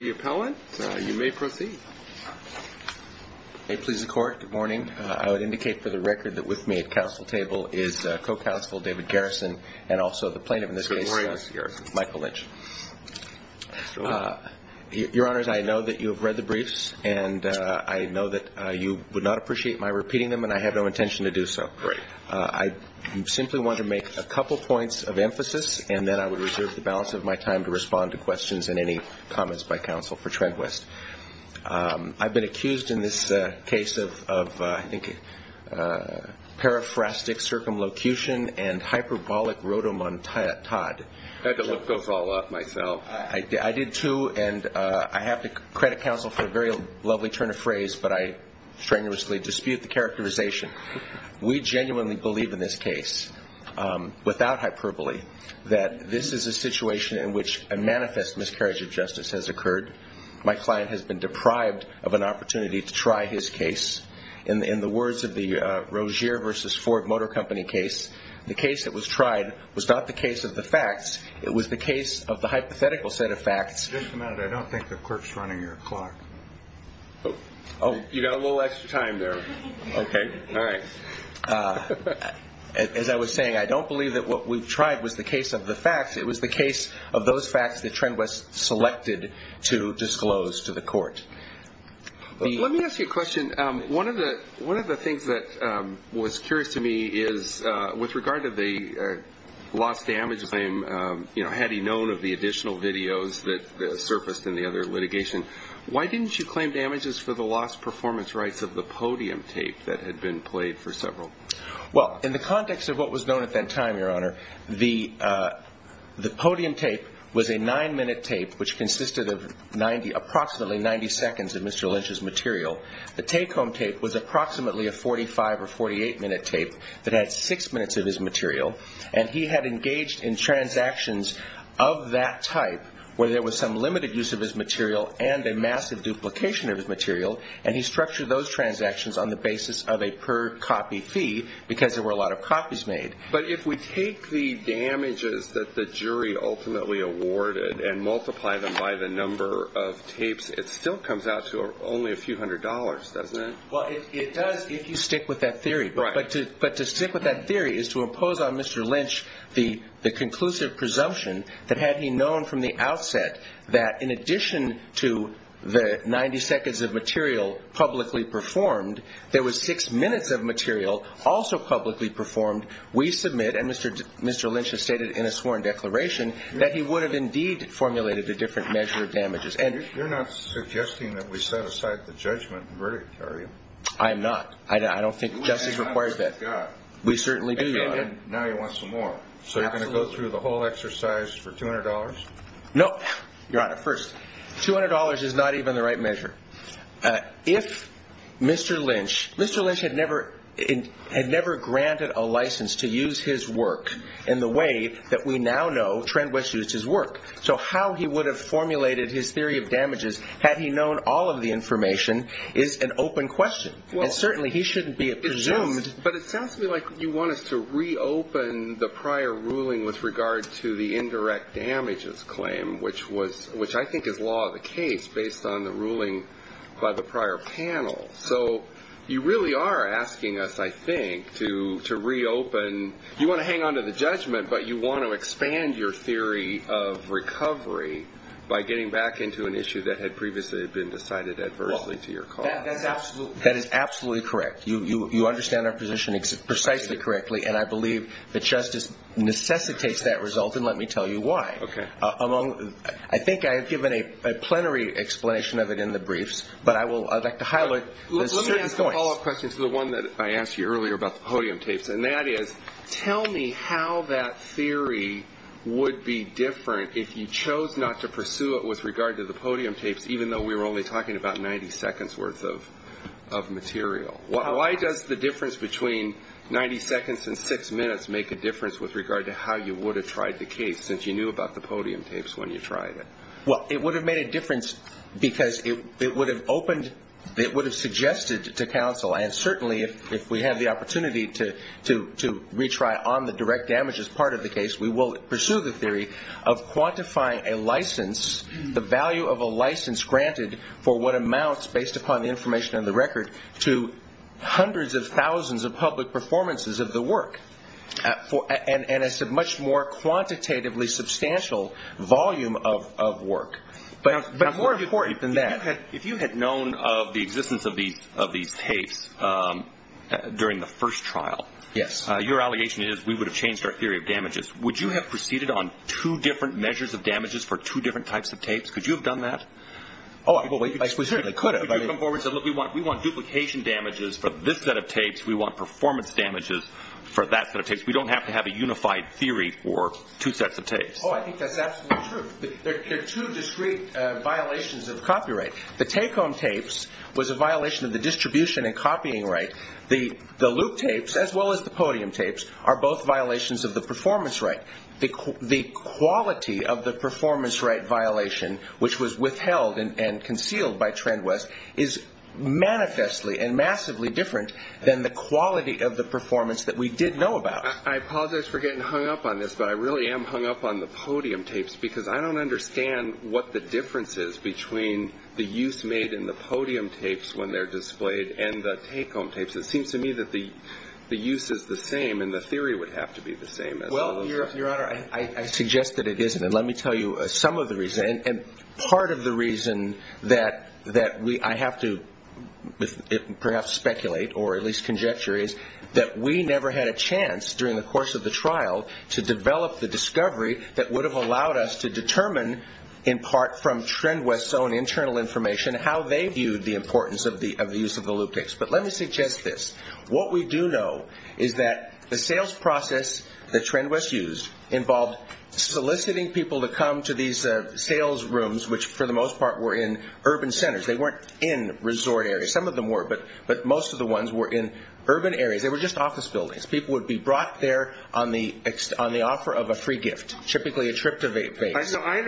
The appellant, you may proceed. May it please the Court, good morning. I would indicate for the record that with me at council table is co-counsel David Garrison and also the plaintiff in this case, Michael Lynch. Your Honors, I know that you have read the briefs, and I know that you would not appreciate my repeating them, and I have no intention to do so. Great. I simply want to make a couple points of emphasis, and then I would reserve the balance of my time to respond to questions and any comments by council for Trendwest. I've been accused in this case of, I think, paraphrastic circumlocution and hyperbolic rotamontad. Had to look those all up myself. I did too, and I have to credit council for a very lovely turn of phrase, but I strenuously dispute the characterization. We genuinely believe in this case, without hyperbole, that this is a situation in which a manifest miscarriage of justice has occurred. My client has been deprived of an opportunity to try his case. In the words of the Rozier v. Ford Motor Company case, the case that was tried was not the case of the facts. It was the case of the hypothetical set of facts. Just a minute. I don't think the clerk's running your clock. Oh, you got a little extra time there. Okay. All right. As I was saying, I don't believe that what we've tried was the case of the facts. It was the case of those facts that Trendwest selected to disclose to the court. Let me ask you a question. One of the things that was curious to me is, with regard to the lost damage claim, had he known of the additional videos that surfaced in the other litigation, why didn't you claim damages for the lost performance rights of the podium tape that had been played for several? Well, in the context of what was known at that time, Your Honor, the podium tape was a nine-minute tape which consisted of approximately 90 seconds of Mr. Lynch's material. The take-home tape was approximately a 45- or 48-minute tape that had six minutes of his material. And he had engaged in transactions of that type where there was some limited use of his material and a massive duplication of his material, and he structured those transactions on the basis of a per-copy fee because there were a lot of copies made. But if we take the damages that the jury ultimately awarded and multiply them by the number of tapes, it still comes out to only a few hundred dollars, doesn't it? Well, it does if you stick with that theory. Right. But to stick with that theory is to impose on Mr. Lynch the conclusive presumption that had he known from the outset that, in addition to the 90 seconds of material publicly performed, there was six minutes of material also publicly performed, we submit, and Mr. Lynch has stated in a sworn declaration, that he would have indeed formulated a different measure of damages. You're not suggesting that we set aside the judgment and verdict, are you? I am not. I don't think justice requires that. We certainly do, Your Honor. Now you want some more. So you're going to go through the whole exercise for $200? No. Your Honor, first, $200 is not even the right measure. If Mr. Lynch had never granted a license to use his work in the way that we now know Trent West used his work, so how he would have formulated his theory of damages had he known all of the information is an open question. And certainly he shouldn't be presumed. But it sounds to me like you want us to reopen the prior ruling with regard to the indirect damages claim, which I think is law of the case based on the ruling by the prior panel. So you really are asking us, I think, to reopen. You want to hang on to the judgment, but you want to expand your theory of recovery by getting back into an issue that had previously been decided adversely to your cause. That is absolutely correct. You understand our position precisely correctly, and I believe that justice necessitates that result, and let me tell you why. Okay. I think I have given a plenary explanation of it in the briefs, but I would like to highlight a certain point. Let me ask a follow-up question to the one that I asked you earlier about the podium tapes, and that is tell me how that theory would be different if you chose not to pursue it with regard to the podium tapes, even though we were only talking about 90 seconds worth of material. Why does the difference between 90 seconds and six minutes make a difference with regard to how you would have tried the case, since you knew about the podium tapes when you tried it? Well, it would have made a difference because it would have opened, it would have suggested to counsel, and certainly if we have the opportunity to retry on the direct damages part of the case, we will pursue the theory of quantifying a license, the value of a license granted for what amounts, based upon the information on the record, to hundreds of thousands of public performances of the work, and it's a much more quantitatively substantial volume of work, but more important than that. If you had known of the existence of these tapes during the first trial, your allegation is we would have changed our theory of damages. Would you have proceeded on two different measures of damages for two different types of tapes? Could you have done that? Oh, I certainly could have. We want duplication damages for this set of tapes. We want performance damages for that set of tapes. We don't have to have a unified theory for two sets of tapes. Oh, I think that's absolutely true. There are two discrete violations of copyright. The take-home tapes was a violation of the distribution and copying right. The loop tapes, as well as the podium tapes, are both violations of the performance right. The quality of the performance right violation, which was withheld and concealed by TrendWest, is manifestly and massively different than the quality of the performance that we did know about. I apologize for getting hung up on this, but I really am hung up on the podium tapes because I don't understand what the difference is between the use made in the podium tapes when they're displayed and the take-home tapes. It seems to me that the use is the same and the theory would have to be the same. Well, Your Honor, I suggest that it isn't, and let me tell you some of the reasons. Part of the reason that I have to perhaps speculate or at least conjecture is that we never had a chance during the course of the trial to develop the discovery that would have allowed us to determine, in part from TrendWest's own internal information, how they viewed the importance of the use of the loop tapes. But let me suggest this. What we do know is that the sales process that TrendWest used involved soliciting people to come to these sales rooms, which for the most part were in urban centers. They weren't in resort areas. Some of them were, but most of the ones were in urban areas. They were just office buildings. People would be brought there on the offer of a free gift, typically a trip to Vegas. I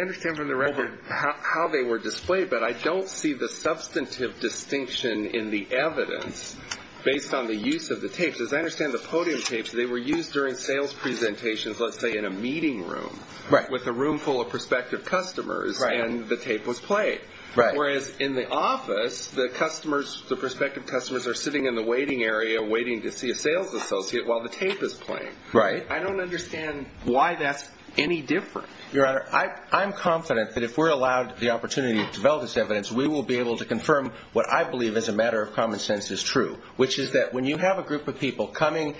understand from the record how they were displayed, but I don't see the substantive distinction in the evidence based on the use of the tapes. As I understand the podium tapes, they were used during sales presentations, let's say in a meeting room, with a room full of prospective customers, and the tape was played. Whereas in the office, the prospective customers are sitting in the waiting area waiting to see a sales associate while the tape is playing. I don't understand why that's any different. Your Honor, I'm confident that if we're allowed the opportunity to develop this evidence, we will be able to confirm what I believe as a matter of common sense is true, which is that when you have a group of people coming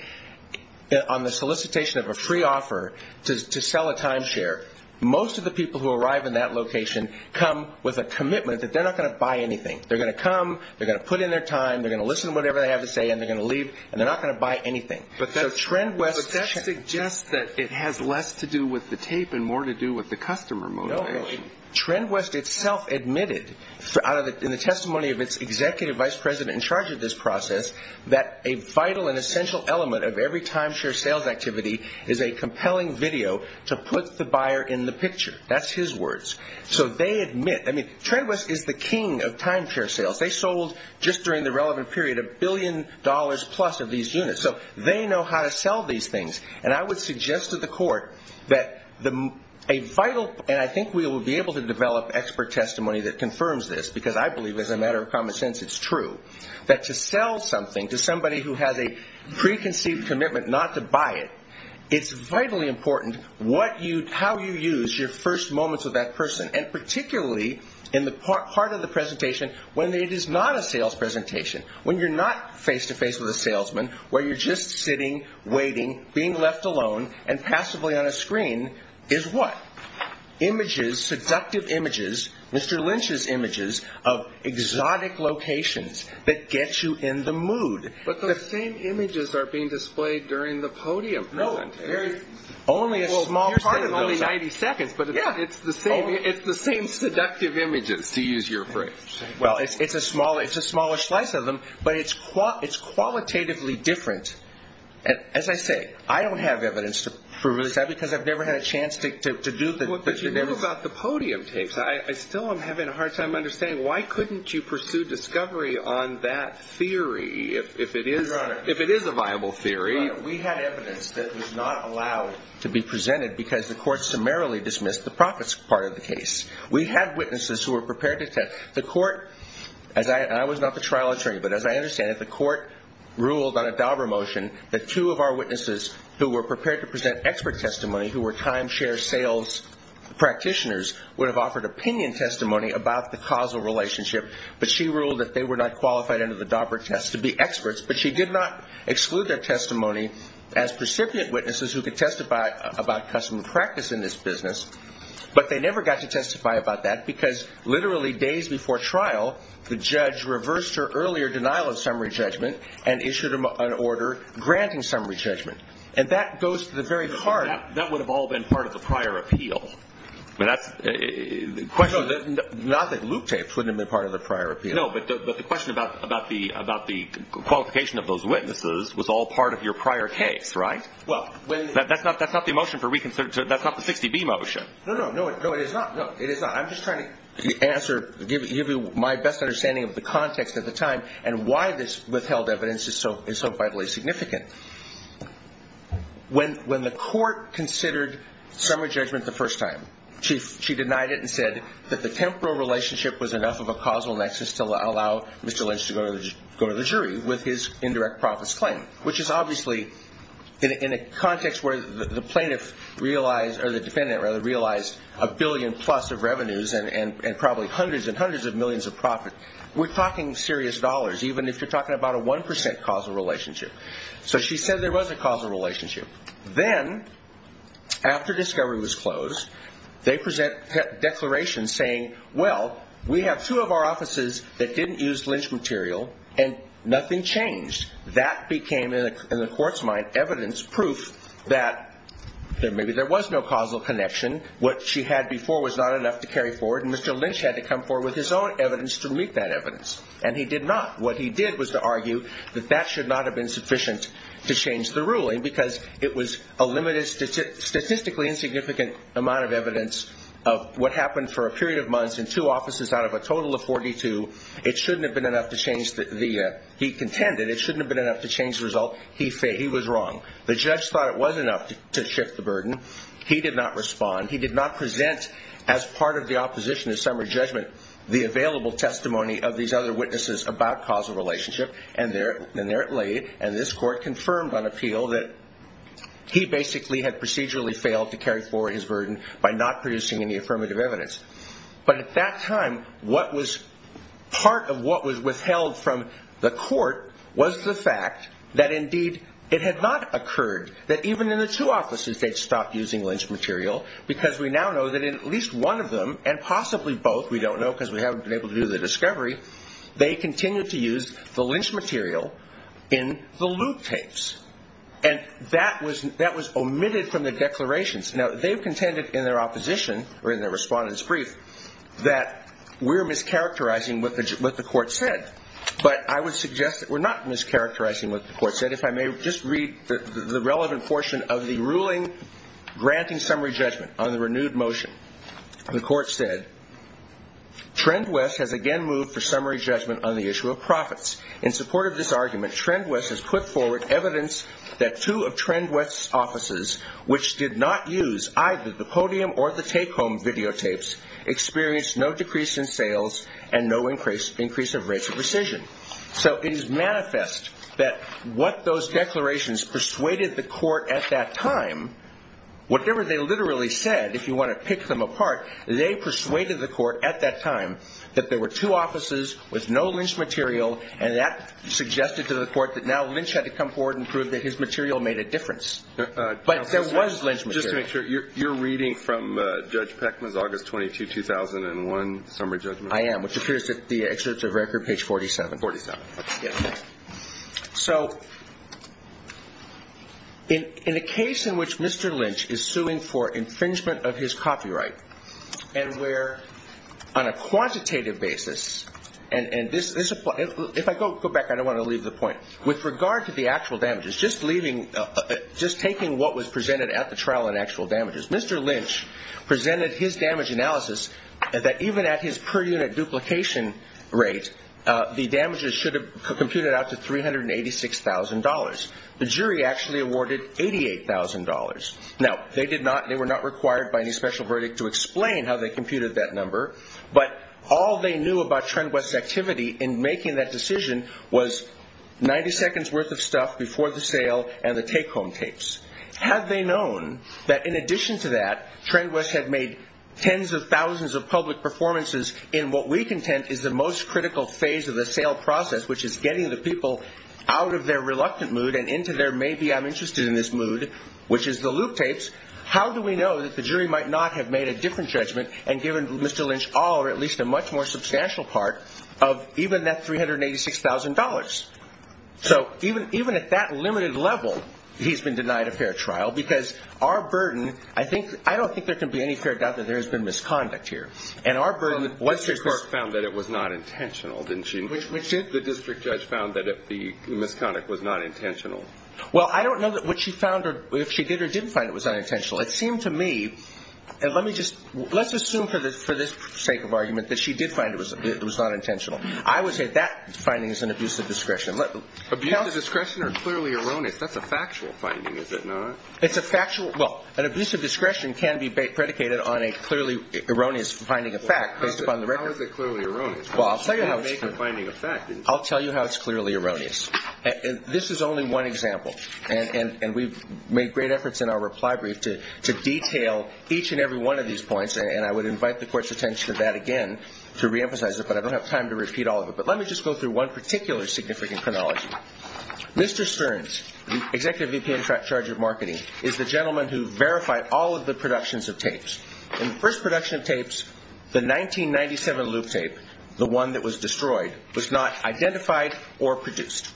on the solicitation of a free offer to sell a timeshare, most of the people who arrive in that location come with a commitment that they're not going to buy anything. They're going to come, they're going to put in their time, they're going to listen to whatever they have to say, and they're going to leave, and they're not going to buy anything. But that suggests that it has less to do with the tape and more to do with the customer motivation. No. TrendWest itself admitted in the testimony of its executive vice president in charge of this process that a vital and essential element of every timeshare sales activity is a compelling video to put the buyer in the picture. That's his words. So they admit, I mean, TrendWest is the king of timeshare sales. They sold, just during the relevant period, a billion dollars plus of these units. So they know how to sell these things. And I would suggest to the court that a vital, and I think we will be able to develop expert testimony that confirms this, because I believe as a matter of common sense it's true, that to sell something to somebody who has a preconceived commitment not to buy it, it's vitally important how you use your first moments with that person, and particularly in the part of the presentation when it is not a sales presentation, when you're not face-to-face with a salesman, where you're just sitting, waiting, being left alone, and passively on a screen is what? Images, seductive images, Mr. Lynch's images of exotic locations that get you in the mood. But those same images are being displayed during the podium presentation. No. Only a small part of those. You're saying only 90 seconds, but it's the same seductive images, to use your phrase. Well, it's a smaller slice of them, but it's qualitatively different. As I say, I don't have evidence to prove this, because I've never had a chance to do the evidence. But you do about the podium tapes. I still am having a hard time understanding why couldn't you pursue discovery on that theory if it is a viable theory? We had evidence that was not allowed to be presented because the court summarily dismissed the profits part of the case. We had witnesses who were prepared to test. The court, and I was not the trial attorney, but as I understand it, the court ruled on a Dauber motion that two of our witnesses who were prepared to present expert testimony, who were timeshare sales practitioners, would have offered opinion testimony about the causal relationship. But she ruled that they were not qualified under the Dauber test to be experts. But she did not exclude their testimony as recipient witnesses who could testify about customer practice in this business. But they never got to testify about that because literally days before trial, the judge reversed her earlier denial of summary judgment and issued an order granting summary judgment. And that goes to the very heart of it. That would have all been part of the prior appeal. Not that loop tapes wouldn't have been part of the prior appeal. No, but the question about the qualification of those witnesses was all part of your prior case, right? That's not the motion for reconsideration. That's not the 60B motion. No, it is not. I'm just trying to give you my best understanding of the context at the time and why this withheld evidence is so vitally significant. When the court considered summary judgment the first time, she denied it and said that the temporal relationship was enough of a causal nexus to allow Mr. Lynch to go to the jury with his indirect profits claim, which is obviously in a context where the plaintiff realized, or the defendant rather, realized a billion plus of revenues and probably hundreds and hundreds of millions of profits. We're talking serious dollars, even if you're talking about a 1% causal relationship. So she said there was a causal relationship. Then after discovery was closed, they present declarations saying, well, we have two of our offices that didn't use Lynch material and nothing changed. That became, in the court's mind, evidence, proof that maybe there was no causal connection. What she had before was not enough to carry forward, and Mr. Lynch had to come forward with his own evidence to meet that evidence, and he did not. What he did was to argue that that should not have been sufficient to change the ruling because it was a statistically insignificant amount of evidence of what happened for a period of months in two offices out of a total of 42. It shouldn't have been enough to change the view he contended. It shouldn't have been enough to change the result. He was wrong. The judge thought it was enough to shift the burden. He did not respond. He did not present as part of the opposition to summary judgment the available testimony of these other witnesses about causal relationship, and there it lay, and this court confirmed on appeal that he basically had procedurally failed to carry forward his burden by not producing any affirmative evidence. But at that time, part of what was withheld from the court was the fact that indeed it had not occurred that even in the two offices they'd stopped using Lynch material because we now know that in at least one of them, and possibly both, we don't know because we haven't been able to do the discovery, they continued to use the Lynch material in the loop tapes, and that was omitted from the declarations. Now, they've contended in their opposition or in their respondent's brief that we're mischaracterizing what the court said, but I would suggest that we're not mischaracterizing what the court said. If I may just read the relevant portion of the ruling granting summary judgment on the renewed motion. The court said, Trend West has again moved for summary judgment on the issue of profits. In support of this argument, Trend West has put forward evidence that two of Trend West's offices, which did not use either the podium or the take-home videotapes, experienced no decrease in sales and no increase of rates of rescission. So it is manifest that what those declarations persuaded the court at that time, whatever they literally said, if you want to pick them apart, they persuaded the court at that time that there were two offices with no Lynch material, and that suggested to the court that now Lynch had to come forward and prove that his material made a difference. But there was Lynch material. Just to make sure, you're reading from Judge Peckman's August 22, 2001 summary judgment? I am, which appears at the excerpts of record, page 47. 47. Yes. So in a case in which Mr. Lynch is suing for infringement of his copyright, and where on a quantitative basis, and if I go back, I don't want to leave the point. With regard to the actual damages, just taking what was presented at the trial in actual damages, Mr. Lynch presented his damage analysis that even at his per-unit duplication rate, the damages should have computed out to $386,000. The jury actually awarded $88,000. Now, they were not required by any special verdict to explain how they computed that number, but all they knew about TrendWest's activity in making that decision was 90 seconds worth of stuff before the sale and the take-home tapes. Had they known that in addition to that, TrendWest had made tens of thousands of public performances in what we contend is the most critical phase of the sale process, which is getting the people out of their reluctant mood and into their maybe-I'm-interested-in-this mood, which is the loop tapes, how do we know that the jury might not have made a different judgment and given Mr. Lynch all or at least a much more substantial part of even that $386,000? So even at that limited level, he's been denied a fair trial because our burden, I don't think there can be any fair doubt that there has been misconduct here. And our burden was just this. Well, Mr. Clark found that it was not intentional, didn't she? Which is? The district judge found that the misconduct was not intentional. Well, I don't know that what she found or if she did or didn't find it was unintentional. It seemed to me, let's assume for the sake of argument that she did find it was not intentional. I would say that finding is an abuse of discretion. Abuse of discretion or clearly erroneous, that's a factual finding, is it not? It's a factual, well, an abuse of discretion can be predicated on a clearly erroneous finding of fact. How is it clearly erroneous? Well, I'll tell you how it's clearly erroneous. This is only one example. And we've made great efforts in our reply brief to detail each and every one of these points, and I would invite the Court's attention to that again to reemphasize it, but I don't have time to repeat all of it. But let me just go through one particular significant chronology. Mr. Stearns, the executive VP in charge of marketing, is the gentleman who verified all of the productions of tapes. In the first production of tapes, the 1997 loop tape, the one that was destroyed, was not identified or produced.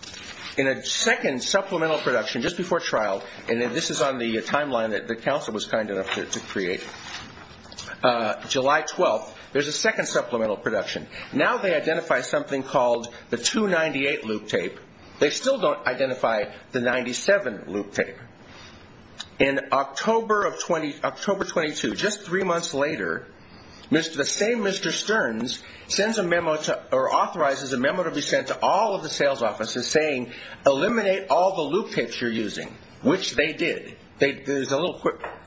In a second supplemental production just before trial, and this is on the timeline that the counsel was kind enough to create, July 12th, there's a second supplemental production. Now they identify something called the 298 loop tape. They still don't identify the 97 loop tape. In October 22, just three months later, the same Mr. Stearns sends a memo or authorizes a memo to be sent to all of the sales offices saying, eliminate all the loop tapes you're using, which they did. There's a little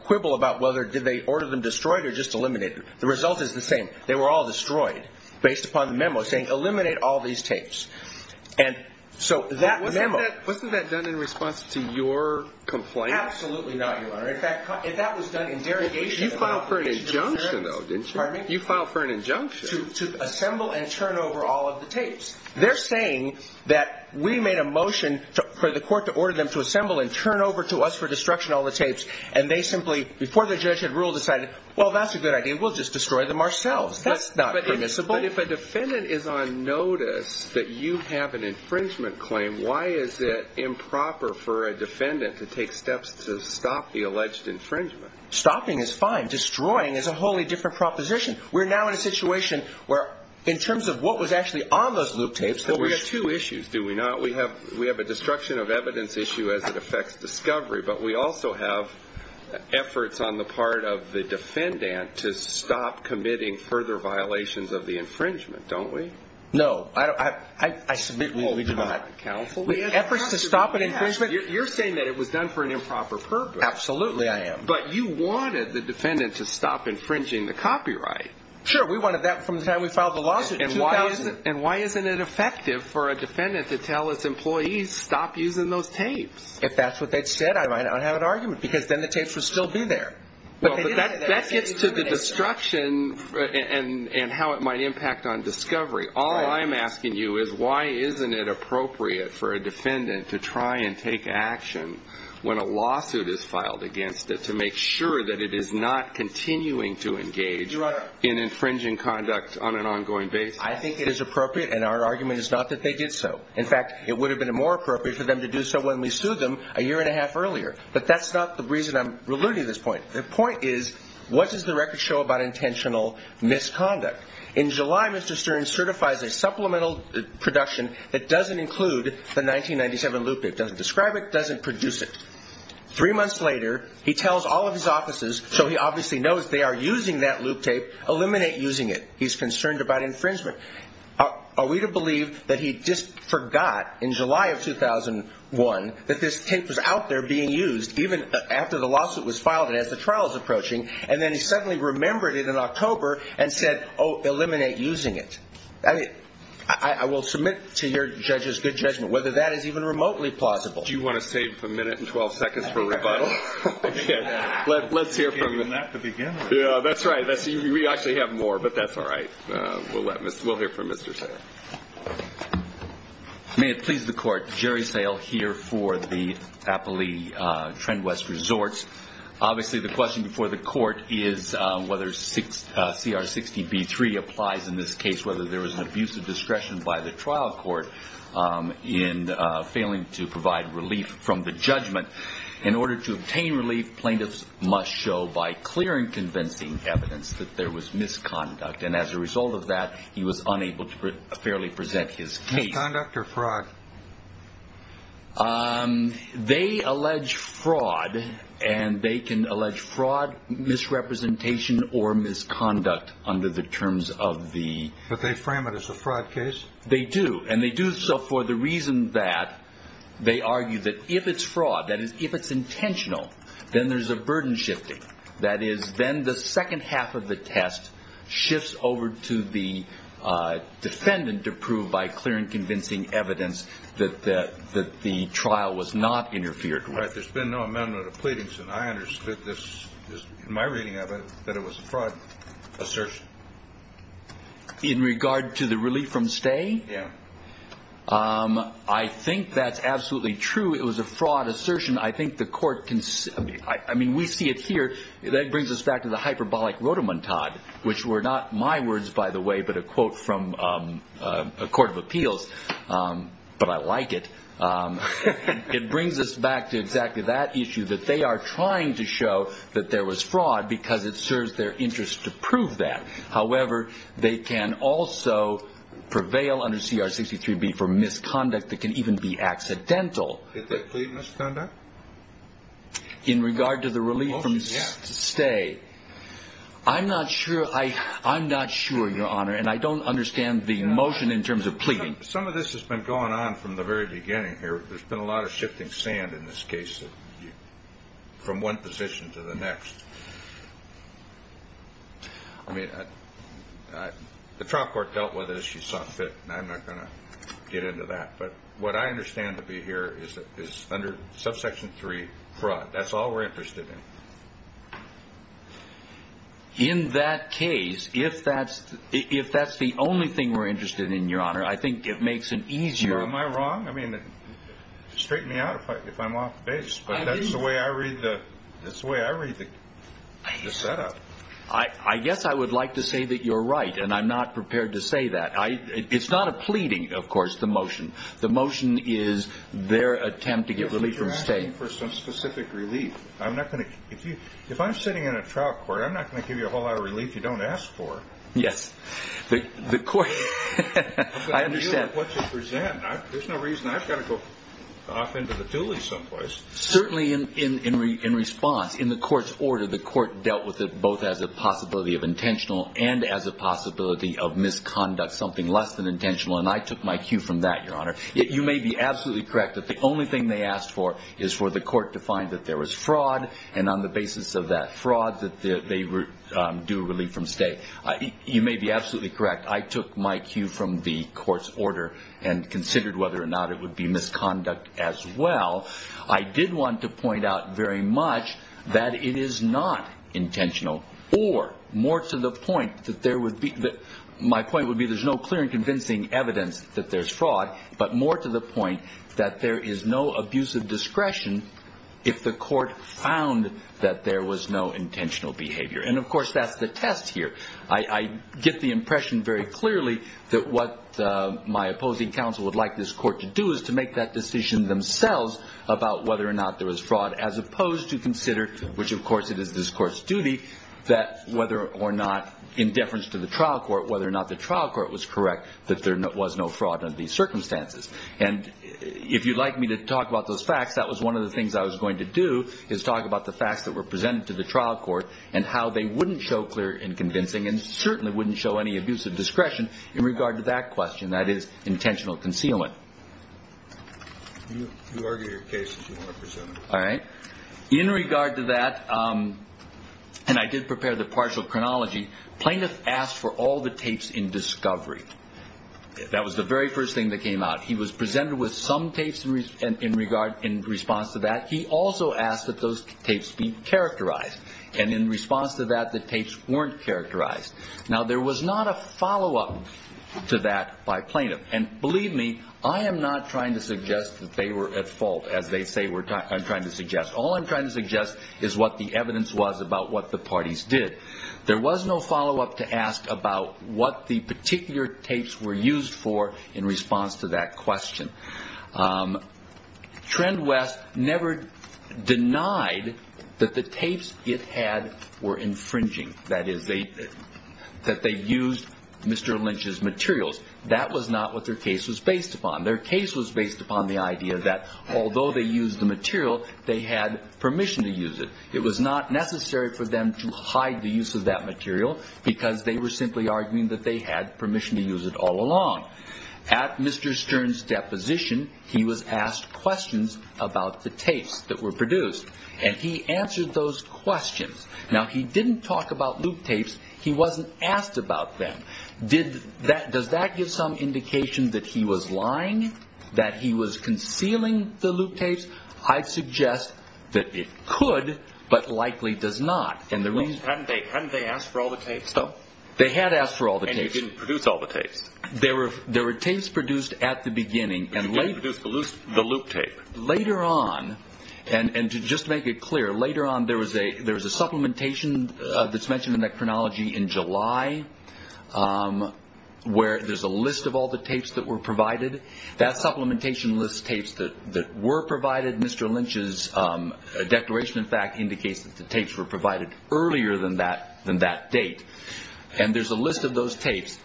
quibble about whether they ordered them destroyed or just eliminated. The result is the same. They were all destroyed based upon the memo saying, eliminate all these tapes. Wasn't that done in response to your complaint? Absolutely not, Your Honor. In fact, that was done in derogation. You filed for an injunction, though, didn't you? Pardon me? You filed for an injunction. To assemble and turn over all of the tapes. They're saying that we made a motion for the court to order them to assemble and turn over to us for destruction of all the tapes, and they simply, before the judge had ruled, decided, well, that's a good idea. We'll just destroy them ourselves. That's not permissible. But if a defendant is on notice that you have an infringement claim, why is it improper for a defendant to take steps to stop the alleged infringement? Stopping is fine. Destroying is a wholly different proposition. We're now in a situation where, in terms of what was actually on those loop tapes, we have two issues, do we not? We have a destruction of evidence issue as it affects discovery, but we also have efforts on the part of the defendant to stop committing further violations of the infringement, don't we? No. I submit we do not. Efforts to stop an infringement? You're saying that it was done for an improper purpose. Absolutely I am. But you wanted the defendant to stop infringing the copyright. Sure, we wanted that from the time we filed the lawsuit in 2000. And why isn't it effective for a defendant to tell its employees, stop using those tapes? If that's what they'd said, I might not have an argument, because then the tapes would still be there. That gets to the destruction and how it might impact on discovery. All I'm asking you is why isn't it appropriate for a defendant to try and take action when a lawsuit is filed against it to make sure that it is not continuing to engage in infringing conduct on an ongoing basis? I think it is appropriate, and our argument is not that they did so. In fact, it would have been more appropriate for them to do so when we sued them a year and a half earlier. But that's not the reason I'm alluding to this point. The point is, what does the record show about intentional misconduct? In July, Mr. Stern certifies a supplemental production that doesn't include the 1997 loop tape, doesn't describe it, doesn't produce it. Three months later, he tells all of his offices, so he obviously knows they are using that loop tape, eliminate using it. He's concerned about infringement. Are we to believe that he just forgot in July of 2001 that this tape was out there being used, even after the lawsuit was filed and as the trial was approaching, and then he suddenly remembered it in October and said, oh, eliminate using it. I will submit to your judge's good judgment whether that is even remotely plausible. Do you want to save a minute and 12 seconds for rebuttal? Let's hear from him. You gave him that at the beginning. That's right. We actually have more, but that's all right. We'll hear from Mr. Sayle. May it please the Court. Jerry Sayle here for the Appali Trent West Resorts. Obviously the question before the Court is whether CR 60B3 applies in this case, whether there was an abuse of discretion by the trial court in failing to provide relief from the judgment. In order to obtain relief, plaintiffs must show by clear and convincing evidence that there was misconduct. And as a result of that, he was unable to fairly present his case. Misconduct or fraud? They allege fraud, and they can allege fraud, misrepresentation, or misconduct under the terms of the... But they frame it as a fraud case? They do, and they do so for the reason that they argue that if it's fraud, that is, if it's intentional, then there's a burden shifting. That is, then the second half of the test shifts over to the defendant to prove by clear and convincing evidence that the trial was not interfered with. There's been no amendment of pleadings, and I understood this, in my reading of it, that it was a fraud assertion. In regard to the relief from stay? Yeah. I think that's absolutely true. It was a fraud assertion. I think the court can... I mean, we see it here. That brings us back to the hyperbolic rotamontade, which were not my words, by the way, but a quote from a court of appeals, but I like it. It brings us back to exactly that issue, that they are trying to show that there was fraud because it serves their interest to prove that. However, they can also prevail under CR 63B for misconduct that can even be accidental. Did they plead misconduct? In regard to the relief from stay, I'm not sure, Your Honor, and I don't understand the motion in terms of pleading. Some of this has been going on from the very beginning here. There's been a lot of shifting sand in this case from one position to the next. I mean, the trial court dealt with it as she saw fit, and I'm not going to get into that. But what I understand to be here is under subsection 3, fraud. That's all we're interested in. In that case, if that's the only thing we're interested in, Your Honor, I think it makes it easier. Am I wrong? I mean, straighten me out if I'm off base, but that's the way I read the setup. I guess I would like to say that you're right, and I'm not prepared to say that. It's not a pleading, of course, the motion. The motion is their attempt to get relief from stay. But you're asking for some specific relief. If I'm sitting in a trial court, I'm not going to give you a whole lot of relief you don't ask for. Yes. I understand. There's no reason I've got to go off into the duly someplace. Certainly in response, in the court's order, the court dealt with it both as a possibility of intentional and as a possibility of misconduct, something less than intentional. And I took my cue from that, Your Honor. You may be absolutely correct that the only thing they asked for is for the court to find that there was fraud, and on the basis of that fraud, that they do a relief from stay. You may be absolutely correct. I took my cue from the court's order and considered whether or not it would be misconduct as well. I did want to point out very much that it is not intentional, or more to the point that my point would be there's no clear and convincing evidence that there's fraud, but more to the point that there is no abusive discretion if the court found that there was no intentional behavior. And, of course, that's the test here. I get the impression very clearly that what my opposing counsel would like this court to do is to make that decision themselves about whether or not there was fraud, as opposed to consider, which, of course, it is this court's duty, that whether or not, in deference to the trial court, whether or not the trial court was correct that there was no fraud under these circumstances. And if you'd like me to talk about those facts, that was one of the things I was going to do, is talk about the facts that were presented to the trial court and how they wouldn't show clear and convincing and certainly wouldn't show any abusive discretion in regard to that question, that is, intentional concealing. You argue your case as you want to present it. All right. In regard to that, and I did prepare the partial chronology, plaintiff asked for all the tapes in discovery. That was the very first thing that came out. He was presented with some tapes in response to that. He also asked that those tapes be characterized. And in response to that, the tapes weren't characterized. Now, there was not a follow-up to that by plaintiff. And believe me, I am not trying to suggest that they were at fault, as they say I'm trying to suggest. All I'm trying to suggest is what the evidence was about what the parties did. There was no follow-up to ask about what the particular tapes were used for in response to that question. Trend West never denied that the tapes it had were infringing, that is, that they used Mr. Lynch's materials. That was not what their case was based upon. Their case was based upon the idea that although they used the material, they had permission to use it. It was not necessary for them to hide the use of that material because they were simply arguing that they had permission to use it all along. At Mr. Stern's deposition, he was asked questions about the tapes that were produced, and he answered those questions. Now, he didn't talk about loop tapes. He wasn't asked about them. Does that give some indication that he was lying, that he was concealing the loop tapes? I'd suggest that it could but likely does not. Hadn't they asked for all the tapes, though? They had asked for all the tapes. And you didn't produce all the tapes? There were tapes produced at the beginning. You didn't produce the loop tape? Later on, and to just make it clear, later on there was a supplementation that's mentioned in that chronology in July, where there's a list of all the tapes that were provided. That supplementation lists tapes that were provided. Mr. Lynch's declaration, in fact, indicates that the tapes were provided earlier than that date, and there's a list of those tapes.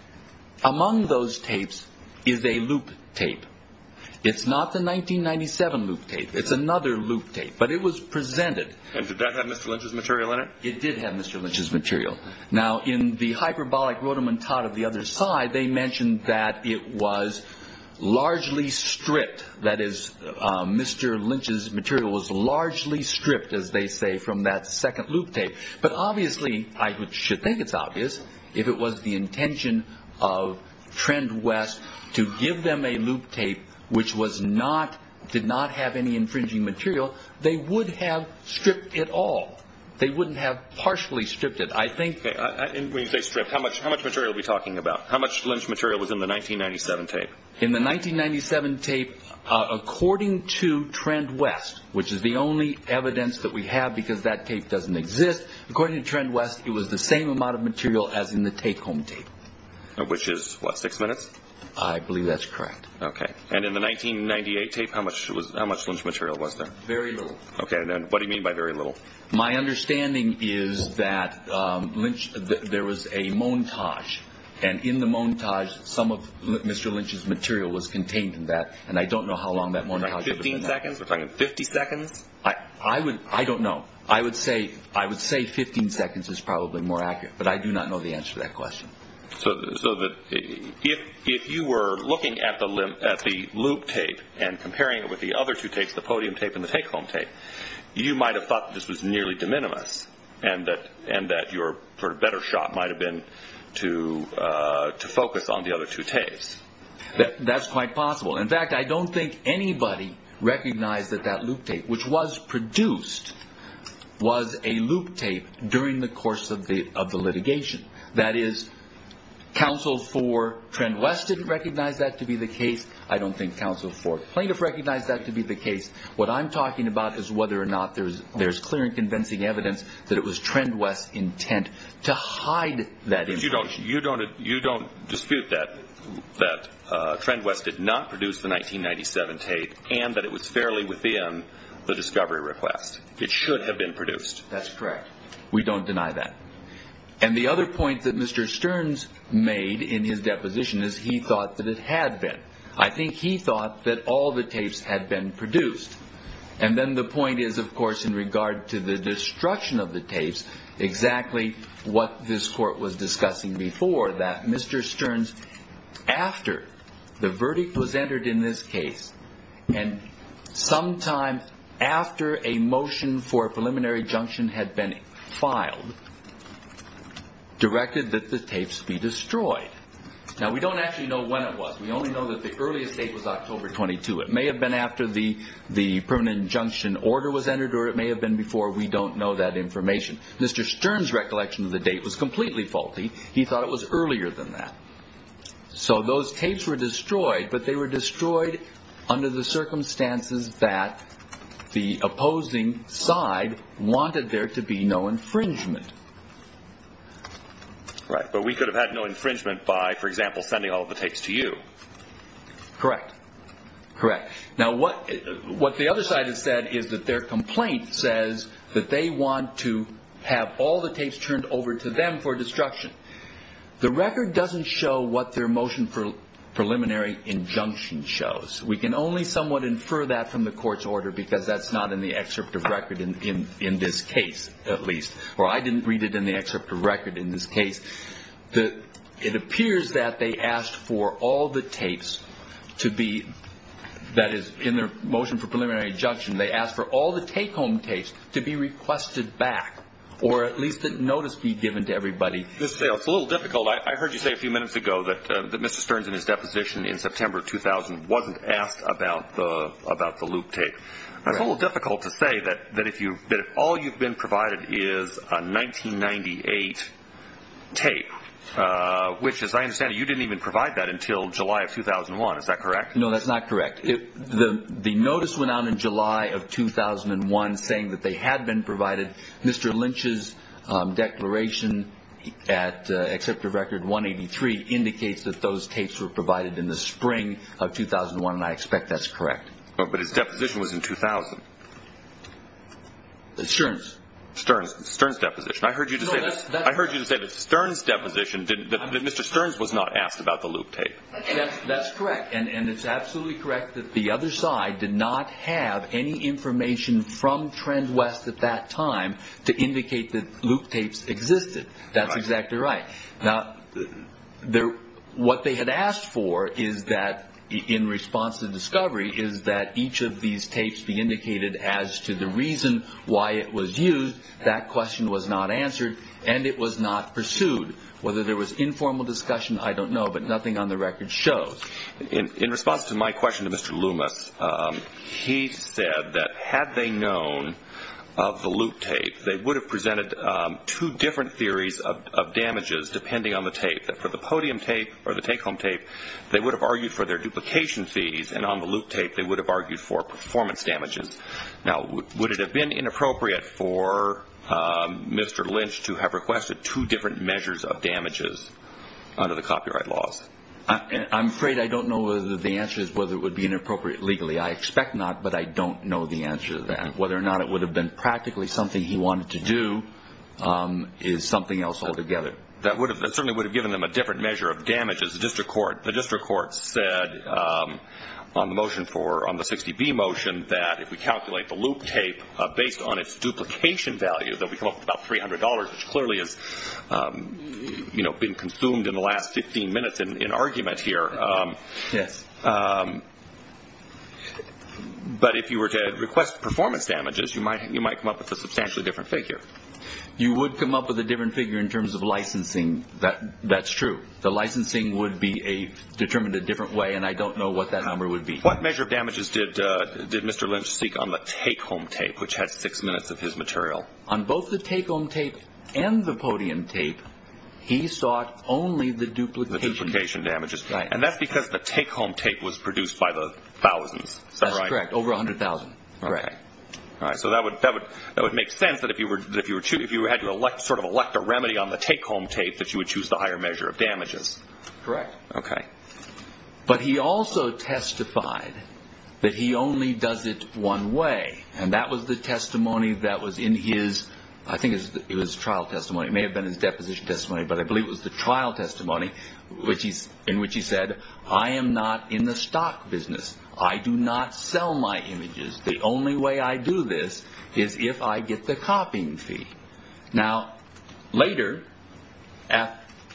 Among those tapes is a loop tape. It's not the 1997 loop tape. It's another loop tape, but it was presented. And did that have Mr. Lynch's material in it? It did have Mr. Lynch's material. Now, in the hyperbolic rotamentat of the other side, they mentioned that it was largely stripped. That is, Mr. Lynch's material was largely stripped, as they say, from that second loop tape. But obviously, I should think it's obvious, if it was the intention of Trend West to give them a loop tape which did not have any infringing material, they would have stripped it all. They wouldn't have partially stripped it. When you say stripped, how much material are we talking about? How much Lynch material was in the 1997 tape? In the 1997 tape, according to Trend West, which is the only evidence that we have because that tape doesn't exist, according to Trend West, it was the same amount of material as in the take-home tape. Which is what, six minutes? I believe that's correct. Okay. And in the 1998 tape, how much Lynch material was there? Very little. Okay. And what do you mean by very little? My understanding is that there was a montage, and in the montage, some of Mr. Lynch's material was contained in that, and I don't know how long that montage was. Fifteen seconds? We're talking 50 seconds? I don't know. I would say 15 seconds is probably more accurate, but I do not know the answer to that question. So if you were looking at the loop tape and comparing it with the other two tapes, the podium tape and the take-home tape, you might have thought that this was nearly de minimis, and that your better shot might have been to focus on the other two tapes. That's quite possible. In fact, I don't think anybody recognized that that loop tape, which was produced, was a loop tape during the course of the litigation. That is, counsel for Trend West didn't recognize that to be the case. I don't think counsel for plaintiff recognized that to be the case. What I'm talking about is whether or not there's clear and convincing evidence that it was Trend West's intent to hide that information. But you don't dispute that Trend West did not produce the 1997 tape and that it was fairly within the discovery request. It should have been produced. That's correct. We don't deny that. And the other point that Mr. Stearns made in his deposition is he thought that it had been. I think he thought that all the tapes had been produced. And then the point is, of course, in regard to the destruction of the tapes, exactly what this court was discussing before, that Mr. Stearns, after the verdict was entered in this case and sometime after a motion for preliminary junction had been filed, directed that the tapes be destroyed. Now, we don't actually know when it was. We only know that the earliest date was October 22. It may have been after the the permanent injunction order was entered or it may have been before. We don't know that information. Mr. Stearns recollection of the date was completely faulty. He thought it was earlier than that. So those tapes were destroyed, but they were destroyed under the circumstances that the opposing side wanted there to be no infringement. Right. But we could have had no infringement by, for example, sending all the tapes to you. Correct. Correct. Now, what the other side has said is that their complaint says that they want to have all the tapes turned over to them for destruction. The record doesn't show what their motion for preliminary injunction shows. We can only somewhat infer that from the court's order because that's not in the excerpt of record in this case, at least. Or I didn't read it in the excerpt of record in this case. It appears that they asked for all the tapes to be, that is, in their motion for preliminary injunction, they asked for all the take-home tapes to be requested back or at least a notice be given to everybody. It's a little difficult. I heard you say a few minutes ago that Mr. Stearns in his deposition in September 2000 wasn't asked about the loop tape. It's a little difficult to say that if all you've been provided is a 1998 tape, which, as I understand it, you didn't even provide that until July of 2001. Is that correct? No, that's not correct. The notice went out in July of 2001 saying that they had been provided. Mr. Lynch's declaration at excerpt of record 183 indicates that those tapes were provided in the spring of 2001, and I expect that's correct. But his deposition was in 2000. Stearns. Stearns, Stearns' deposition. I heard you say that. I heard you say that Stearns' deposition, that Mr. Stearns was not asked about the loop tape. That's correct, and it's absolutely correct that the other side did not have any information from Trend West at that time to indicate that loop tapes existed. That's exactly right. Now, what they had asked for is that, in response to the discovery, is that each of these tapes be indicated as to the reason why it was used. That question was not answered, and it was not pursued. Whether there was informal discussion, I don't know, but nothing on the record shows. In response to my question to Mr. Loomis, he said that had they known of the loop tape, they would have presented two different theories of damages depending on the tape, that for the podium tape or the take-home tape they would have argued for their duplication fees, and on the loop tape they would have argued for performance damages. Now, would it have been inappropriate for Mr. Lynch to have requested two different measures of damages under the copyright laws? I'm afraid I don't know whether the answer is whether it would be inappropriate legally. I expect not, but I don't know the answer to that, but whether or not it would have been practically something he wanted to do is something else altogether. That certainly would have given them a different measure of damages. The district court said on the 60B motion that if we calculate the loop tape based on its duplication value, that we come up with about $300, which clearly has been consumed in the last 15 minutes in argument here. Yes. But if you were to request performance damages, you might come up with a substantially different figure. You would come up with a different figure in terms of licensing. That's true. The licensing would be determined a different way, and I don't know what that number would be. What measure of damages did Mr. Lynch seek on the take-home tape, which had six minutes of his material? On both the take-home tape and the podium tape, he sought only the duplication damages. And that's because the take-home tape was produced by the thousands. That's correct, over 100,000. Correct. So that would make sense that if you had to sort of elect a remedy on the take-home tape, that you would choose the higher measure of damages. Correct. Okay. But he also testified that he only does it one way, and that was the testimony that was in his, I think it was trial testimony. It may have been his deposition testimony, but I believe it was the trial testimony, in which he said, I am not in the stock business. I do not sell my images. The only way I do this is if I get the copying fee. Now, later,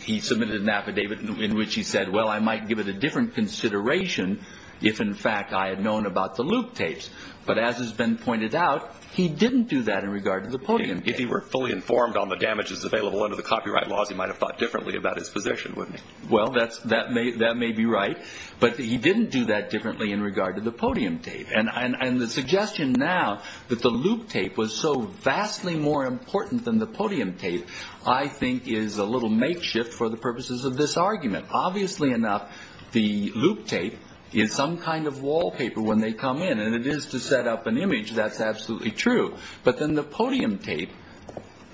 he submitted an affidavit in which he said, well, I might give it a different consideration if, in fact, I had known about the loop tapes. But as has been pointed out, he didn't do that in regard to the podium tape. If he were fully informed on the damages available under the copyright laws, he might have thought differently about his position, wouldn't he? Well, that may be right. But he didn't do that differently in regard to the podium tape. And the suggestion now that the loop tape was so vastly more important than the podium tape, I think is a little makeshift for the purposes of this argument. Obviously enough, the loop tape is some kind of wallpaper when they come in, and it is to set up an image. That's absolutely true. But then the podium tape,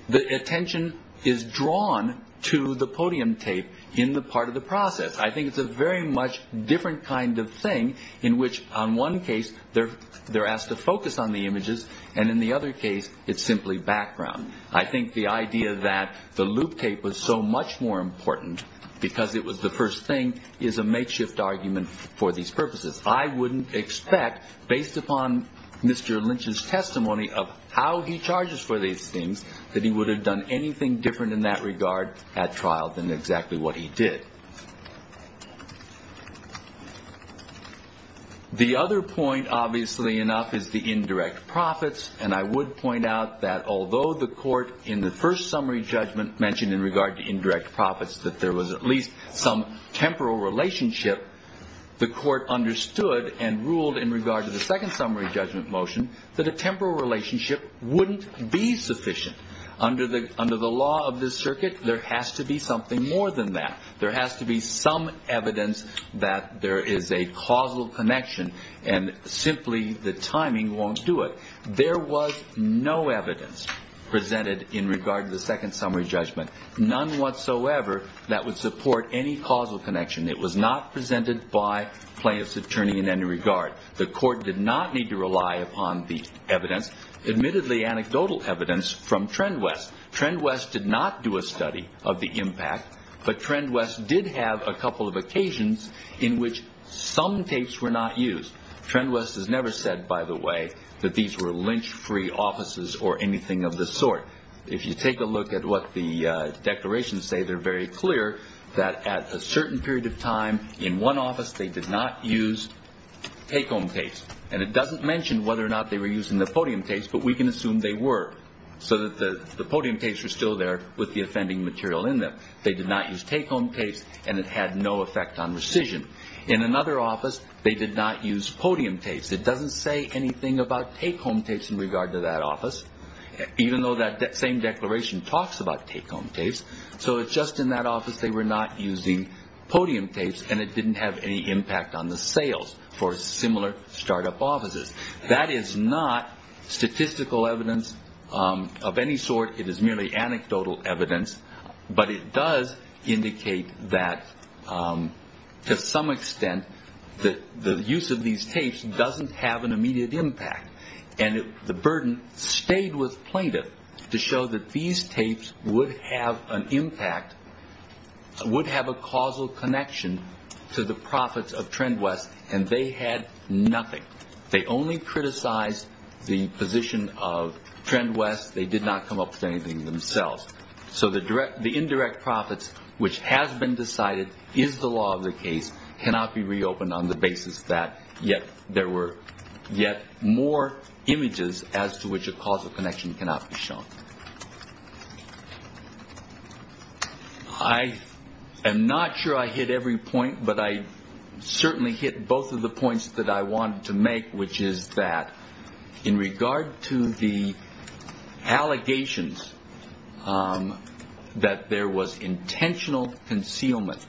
the attention is drawn to the podium tape in the part of the process. I think it's a very much different kind of thing in which, on one case, they're asked to focus on the images, and in the other case, it's simply background. I think the idea that the loop tape was so much more important because it was the first thing is a makeshift argument for these purposes. I wouldn't expect, based upon Mr. Lynch's testimony of how he charges for these things, that he would have done anything different in that regard at trial than exactly what he did. The other point, obviously enough, is the indirect profits. And I would point out that although the court, in the first summary judgment, mentioned in regard to indirect profits that there was at least some temporal relationship, the court understood and ruled in regard to the second summary judgment motion that a temporal relationship wouldn't be sufficient. Under the law of this circuit, there has to be something more than that. There has to be some evidence that there is a causal connection, and simply the timing won't do it. There was no evidence presented in regard to the second summary judgment, none whatsoever that would support any causal connection. It was not presented by plaintiff's attorney in any regard. The court did not need to rely upon the evidence, admittedly anecdotal evidence, from TrendWest. TrendWest did not do a study of the impact, but TrendWest did have a couple of occasions in which some tapes were not used. TrendWest has never said, by the way, that these were lynch-free offices or anything of the sort. If you take a look at what the declarations say, they're very clear that at a certain period of time, in one office they did not use take-home tapes. And it doesn't mention whether or not they were using the podium tapes, but we can assume they were, so that the podium tapes were still there with the offending material in them. They did not use take-home tapes, and it had no effect on rescission. In another office, they did not use podium tapes. It doesn't say anything about take-home tapes in regard to that office, even though that same declaration talks about take-home tapes. So it's just in that office they were not using podium tapes, and it didn't have any impact on the sales for similar start-up offices. That is not statistical evidence of any sort. It is merely anecdotal evidence. But it does indicate that, to some extent, the use of these tapes doesn't have an immediate impact. And the burden stayed with plaintiff to show that these tapes would have an impact, would have a causal connection to the profits of TrendWest, and they had nothing. They only criticized the position of TrendWest. They did not come up with anything themselves. So the indirect profits, which has been decided, is the law of the case, cannot be reopened on the basis that yet there were yet more images as to which a causal connection cannot be shown. I am not sure I hit every point, but I certainly hit both of the points that I wanted to make, which is that in regard to the allegations that there was intentional concealment,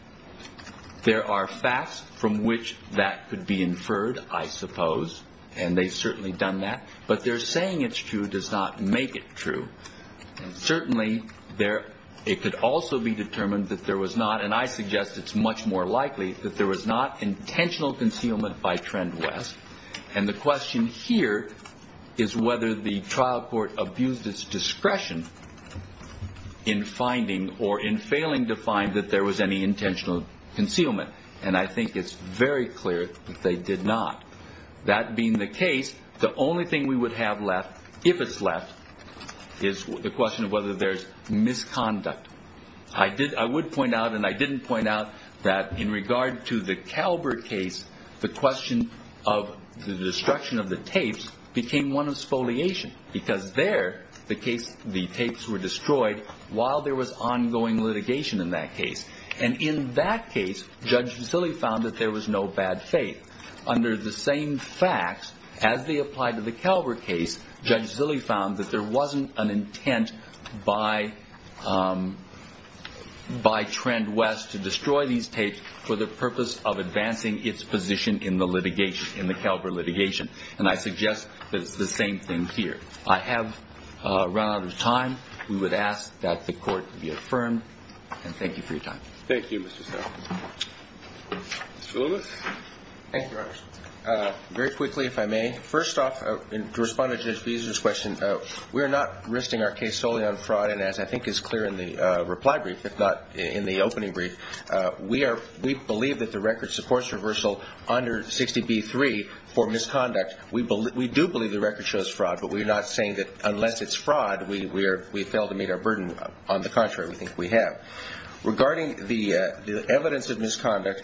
there are facts from which that could be inferred, I suppose, and they have certainly done that. But their saying it is true does not make it true. Certainly, it could also be determined that there was not, and I suggest it is much more likely, that there was not intentional concealment by TrendWest. And the question here is whether the trial court abused its discretion in finding or in failing to find that there was any intentional concealment, and I think it is very clear that they did not. That being the case, the only thing we would have left, if it is left, is the question of whether there is misconduct. I would point out and I did not point out that in regard to the Calvert case, the question of the destruction of the tapes became one of spoliation, because there, the tapes were destroyed while there was ongoing litigation in that case. And in that case, Judge Zille found that there was no bad faith. Under the same facts, as they apply to the Calvert case, Judge Zille found that there was not an intent by TrendWest to destroy these tapes for the purpose of advancing its position in the litigation, in the Calvert litigation. And I suggest that it is the same thing here. I have run out of time. We would ask that the Court be affirmed, and thank you for your time. Thank you, Mr. Stauffer. Mr. Willis. Thank you, Your Honor. Very quickly, if I may. First off, to respond to Judge Beezer's question, we are not risking our case solely on fraud, and as I think is clear in the reply brief, if not in the opening brief, we believe that the record supports reversal under 60b-3 for misconduct. We do believe the record shows fraud, but we're not saying that unless it's fraud, we fail to meet our burden. On the contrary, we think we have. Regarding the evidence of misconduct,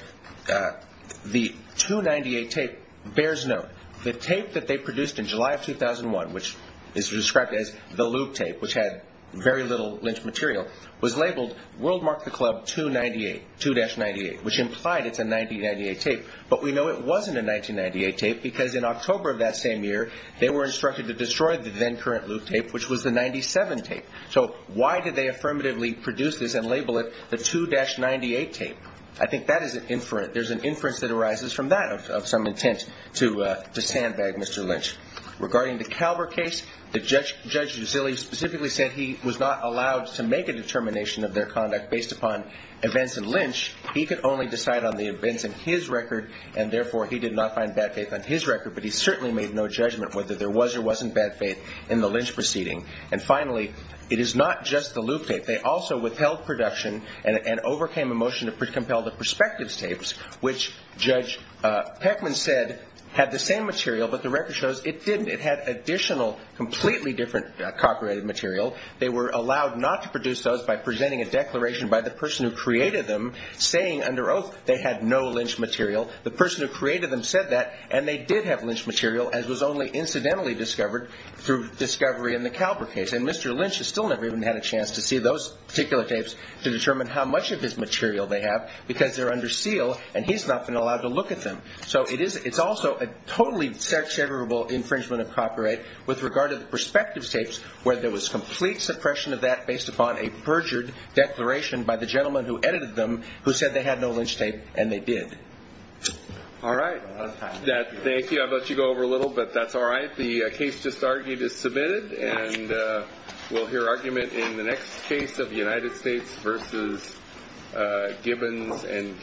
the 298 tape bears note. The tape that they produced in July of 2001, which is described as the lube tape, which had very little Lynch material, was labeled, World Mark the Club 298, 2-98, which implied it's a 90-98 tape. But we know it wasn't a 90-98 tape because in October of that same year, they were instructed to destroy the then-current lube tape, which was the 97 tape. So why did they affirmatively produce this and label it the 2-98 tape? I think that is an inference. There's an inference that arises from that of some intent to sandbag Mr. Lynch. Regarding the Kalber case, Judge Giselli specifically said he was not allowed to make a determination of their conduct based upon events in Lynch. He could only decide on the events in his record, and therefore he did not find bad faith on his record, but he certainly made no judgment whether there was or wasn't bad faith in the Lynch proceeding. And finally, it is not just the lube tape. They also withheld production and overcame a motion to compel the perspectives tapes, which Judge Peckman said had the same material, but the record shows it didn't. It had additional, completely different cockerated material. They were allowed not to produce those by presenting a declaration by the person who created them, saying under oath they had no Lynch material. The person who created them said that, and they did have Lynch material, as was only incidentally discovered through discovery in the Kalber case. And Mr. Lynch has still never even had a chance to see those particular tapes to determine how much of his material they have because they're under seal, and he's not been allowed to look at them. So it's also a totally exaggerable infringement of copyright with regard to the perspectives tapes where there was complete suppression of that based upon a perjured declaration by the gentleman who edited them who said they had no Lynch tape, and they did. All right. Thank you. I've let you go over a little, but that's all right. The case just argued is submitted, and we'll hear argument in the next case of the United States v. Gibbons and Gibbons.